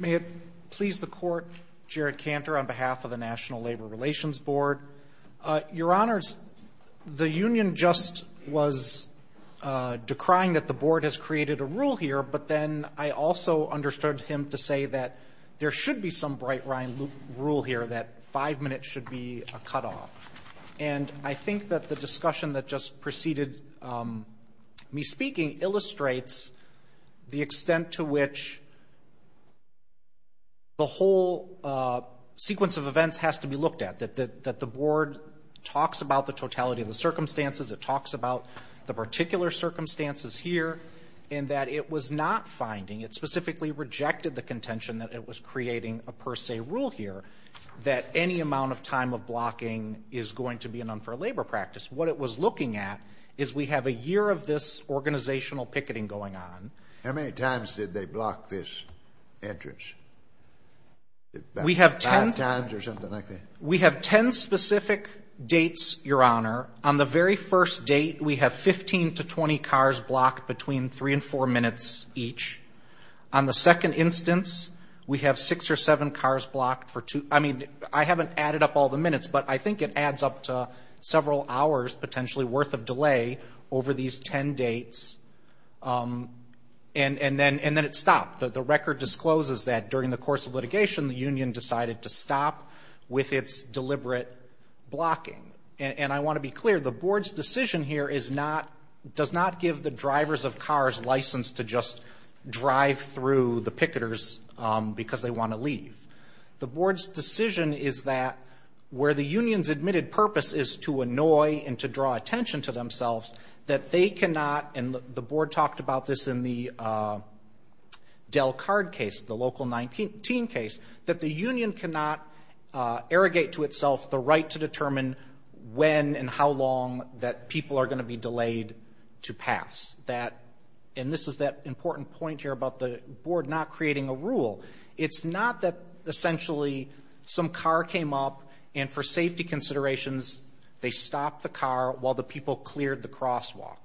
May it please the Court, Jared Cantor on behalf of the National Labor Relations Board. Your Honors, the Union just was decrying that the Board has created a rule here, but then I also understood him to say that there should be some bright-rind rule here, that five minutes should be a cutoff. And I think that the discussion that just preceded me speaking illustrates the extent to which the whole sequence of events has to be looked at, that the Board talks about the totality of the circumstances, it talks about the particular circumstances here, and that it was not finding, it specifically rejected the contention that it was creating a per se rule here, that any amount of time of blocking is going to be an unfair labor practice. What it was looking at is we have a year of this organizational picketing going on. How many times did they block this entrance? Five times or something like that? We have ten specific dates, Your Honor. On the very first date, we have 15 to 20 cars blocked between three and four minutes each. On the second instance, we have six or seven cars blocked for two — I mean, I haven't added up all the minutes, but I think it adds up to several hours potentially worth of delay over these ten dates. And then it stopped. The record discloses that during the course of litigation, the union decided to stop with its deliberate blocking. And I want to be clear, the Board's decision here is not, does not give the drivers of cars license to just drive through the picketers because they want to leave. The Board's decision is that where the union's admitted purpose is to annoy and to draw attention to themselves, that they cannot, and the Board talked about this in the Dell Card case, the Local 19 case, that the union cannot arrogate to itself the right to determine when and how long that people are going to be delayed to pass. And this is that important point here about the Board not creating a rule. It's not that essentially some car came up, and for safety considerations, they stopped the car while the people cleared the crosswalk,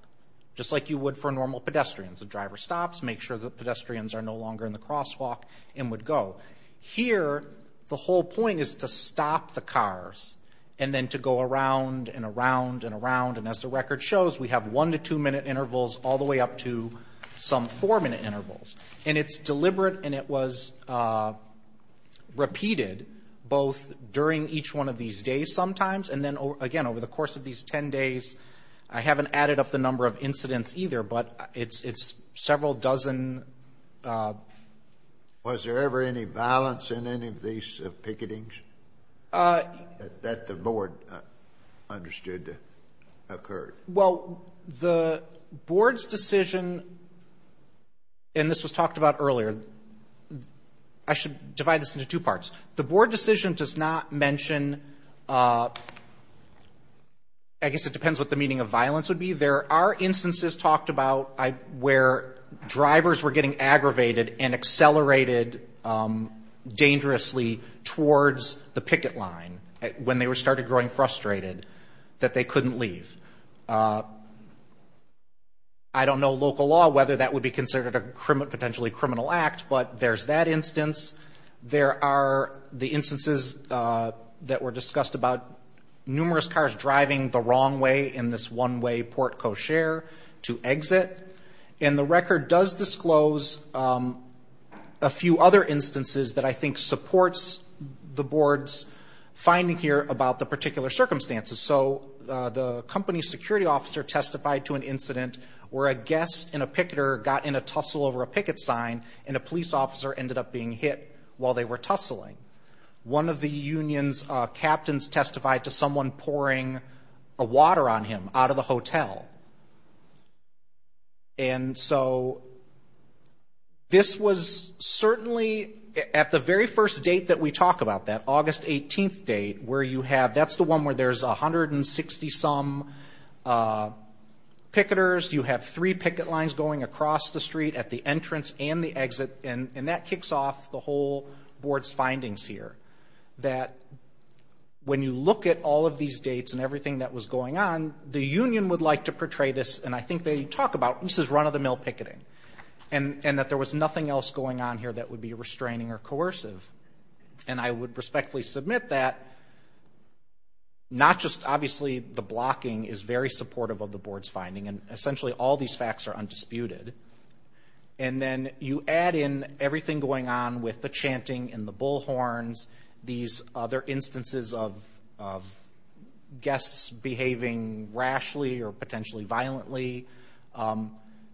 just like you would for normal pedestrians. The driver stops, makes sure the pedestrians are no longer in the crosswalk, and would go. Here, the whole point is to stop the cars and then to go around and around and around. And as the record shows, we have one- to two-minute intervals all the way up to some four-minute intervals. And it's deliberate, and it was repeated both during each one of these days sometimes and then, again, over the course of these ten days. I haven't added up the number of incidents either, but it's several dozen. Was there ever any violence in any of these picketings that the Board understood occurred? Well, the Board's decision, and this was talked about earlier, I should divide this into two parts. The Board decision does not mention, I guess it depends what the meaning of violence would be. There are instances talked about where drivers were getting aggravated and accelerated dangerously towards the picket line when they started growing frustrated that they couldn't leave. I don't know local law whether that would be considered a potentially criminal act, but there's that instance. There are the instances that were discussed about numerous cars driving the wrong way in this one-way Port Cochere to exit. And the record does disclose a few other instances that I think supports the Board's finding here about the particular circumstances. So the company security officer testified to an incident where a guest in a picketer got in a tussle over a picket sign and a police officer ended up being hit while they were tussling. One of the union's captains testified to someone pouring water on him out of the hotel. And so this was certainly at the very first date that we talk about that, the August 18th date where you have, that's the one where there's 160-some picketers, you have three picket lines going across the street at the entrance and the exit, and that kicks off the whole Board's findings here, that when you look at all of these dates and everything that was going on, the union would like to portray this, and I think they talk about, this is run-of-the-mill picketing, and that there was nothing else going on here that would be restraining or coercive. And I would respectfully submit that not just, obviously, the blocking is very supportive of the Board's finding, and essentially all these facts are undisputed, and then you add in everything going on with the chanting and the bullhorns, these other instances of guests behaving rashly or potentially violently,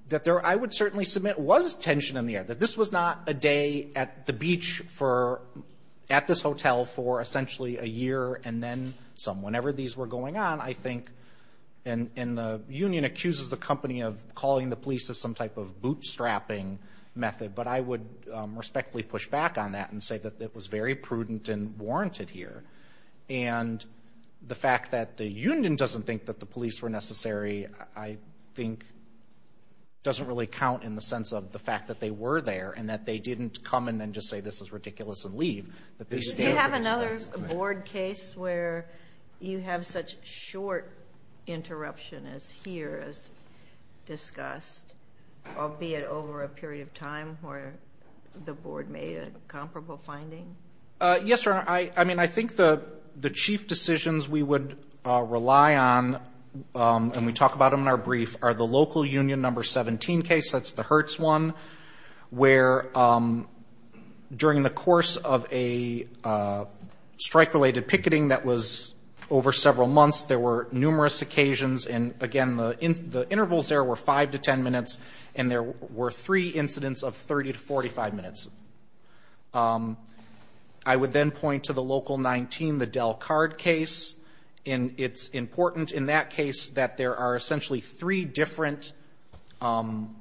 that there, I would certainly submit, was tension in the air, that this was not a day at the beach at this hotel for essentially a year and then some. Whenever these were going on, I think, and the union accuses the company of calling the police as some type of bootstrapping method, but I would respectfully push back on that and say that it was very prudent and warranted here. And the fact that the union doesn't think that the police were necessary, I think, doesn't really count in the sense of the fact that they were there and that they didn't come and then just say this is ridiculous and leave. Do you have another Board case where you have such short interruption as here as discussed, albeit over a period of time where the Board made a comparable finding? Yes, Your Honor. I mean, I think the chief decisions we would rely on, and we talk about them in our brief, are the local union number 17 case, that's the Hertz one, where during the course of a strike-related picketing that was over several months, there were numerous occasions and, again, the intervals there were 5 to 10 minutes and there were three incidents of 30 to 45 minutes. I would then point to the local 19, the Del Card case, and it's important. In that case, that there are essentially three different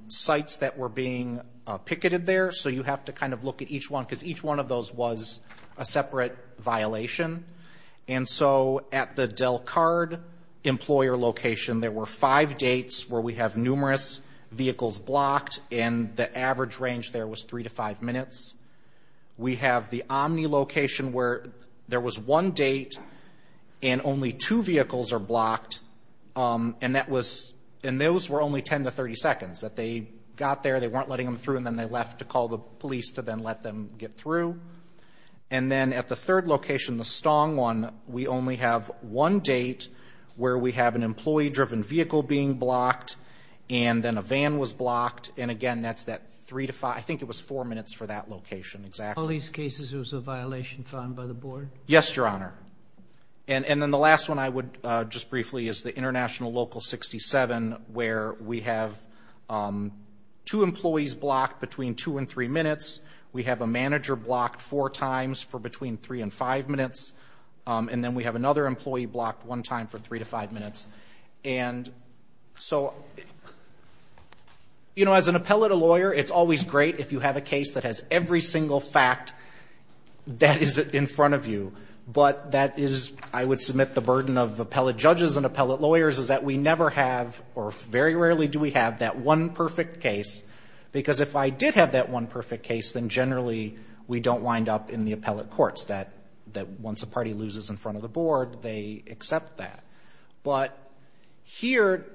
sites that were being picketed there, so you have to kind of look at each one because each one of those was a separate violation. And so at the Del Card employer location, there were five dates where we have numerous vehicles blocked and the average range there was 3 to 5 minutes. We have the Omni location where there was one date and only two vehicles are blocked and those were only 10 to 30 seconds, that they got there, they weren't letting them through, and then they left to call the police to then let them get through. And then at the third location, the Stong one, we only have one date where we have an employee-driven vehicle being blocked and then a van was blocked, and, again, that's that 3 to 5, I think it was 4 minutes for that location, exactly. In all these cases, it was a violation found by the board? Yes, Your Honor. And then the last one I would just briefly is the International Local 67 where we have two employees blocked between 2 and 3 minutes, we have a manager blocked four times for between 3 and 5 minutes, and then we have another employee blocked one time for 3 to 5 minutes. And so, you know, as an appellate lawyer, it's always great if you have a case that has every single fact that is in front of you, but that is, I would submit, the burden of appellate judges and appellate lawyers is that we never have, or very rarely do we have, that one perfect case because if I did have that one perfect case, then generally we don't wind up in the appellate courts, that once a party loses in front of the board, they accept that. But here,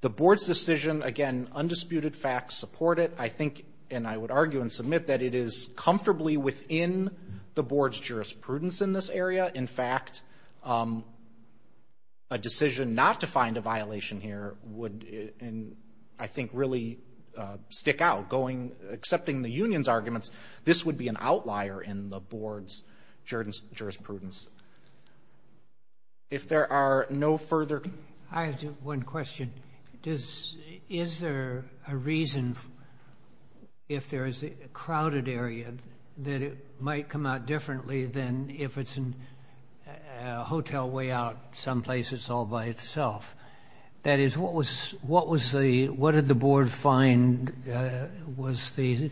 the board's decision, again, undisputed facts support it. I think, and I would argue and submit, that it is comfortably within the board's jurisprudence in this area. In fact, a decision not to find a violation here would, I think, really stick out. Accepting the union's arguments, this would be an outlier in the board's jurisprudence. If there are no further... I have one question. Is there a reason, if there is a crowded area, that it might come out differently than if it's a hotel way out someplace that's all by itself? That is, what did the board find was the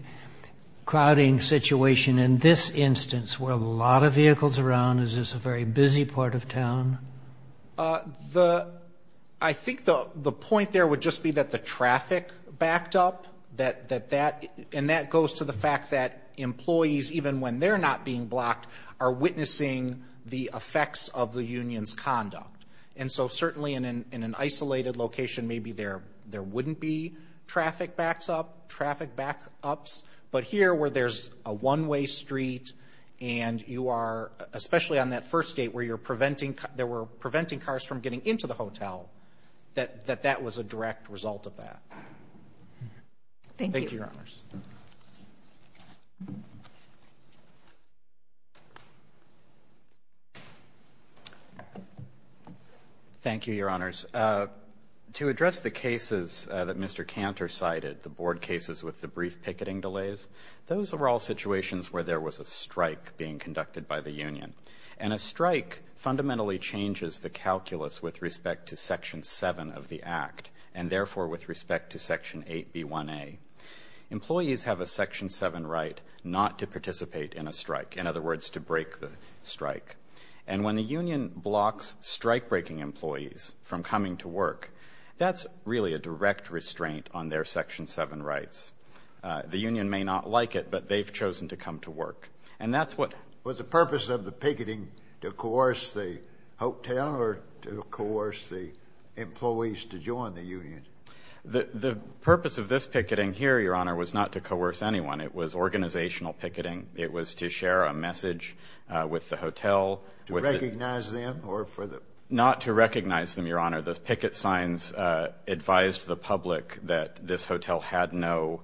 crowding situation in this instance where there are a lot of vehicles around? Is this a very busy part of town? I think the point there would just be that the traffic backed up, and that goes to the fact that employees, even when they're not being blocked, are witnessing the effects of the union's conduct. And so certainly in an isolated location, maybe there wouldn't be traffic backs up, traffic backups, but here where there's a one-way street and you are, especially on that first date where you're preventing cars from getting into the hotel, that that was a direct result of that. Thank you. Thank you, Your Honors. Thank you, Your Honors. To address the cases that Mr. Cantor cited, the board cases with the brief picketing delays, those were all situations where there was a strike being conducted by the union. And a strike fundamentally changes the calculus with respect to Section 7 of the Act and, therefore, with respect to Section 8B1A. Employees are required to report to the union that employees have a Section 7 right not to participate in a strike, in other words, to break the strike. And when the union blocks strike-breaking employees from coming to work, that's really a direct restraint on their Section 7 rights. The union may not like it, but they've chosen to come to work. Was the purpose of the picketing to coerce the hotel or to coerce the employees to join the union? The purpose of this picketing here, Your Honor, was not to coerce anyone. It was organizational picketing. It was to share a message with the hotel. To recognize them? Not to recognize them, Your Honor. The picket signs advised the public that this hotel had no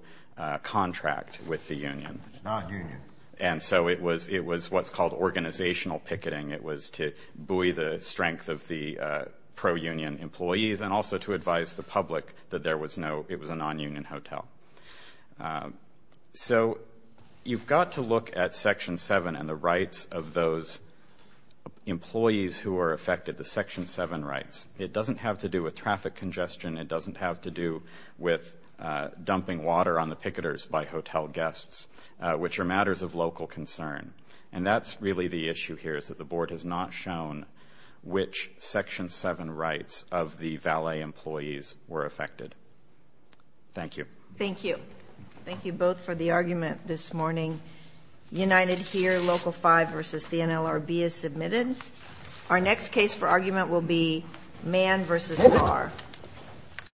contract with the union. It's not union. And so it was what's called organizational picketing. It was to buoy the strength of the pro-union employees and also to advise the public that it was a non-union hotel. So you've got to look at Section 7 and the rights of those employees who are affected, the Section 7 rights. It doesn't have to do with traffic congestion. It doesn't have to do with dumping water on the picketers by hotel guests, which are matters of local concern. And that's really the issue here is that the Board has not shown which Section 7 rights of the valet employees were affected. Thank you. Thank you. Thank you both for the argument this morning. United here, Local 5 v. the NLRB is submitted.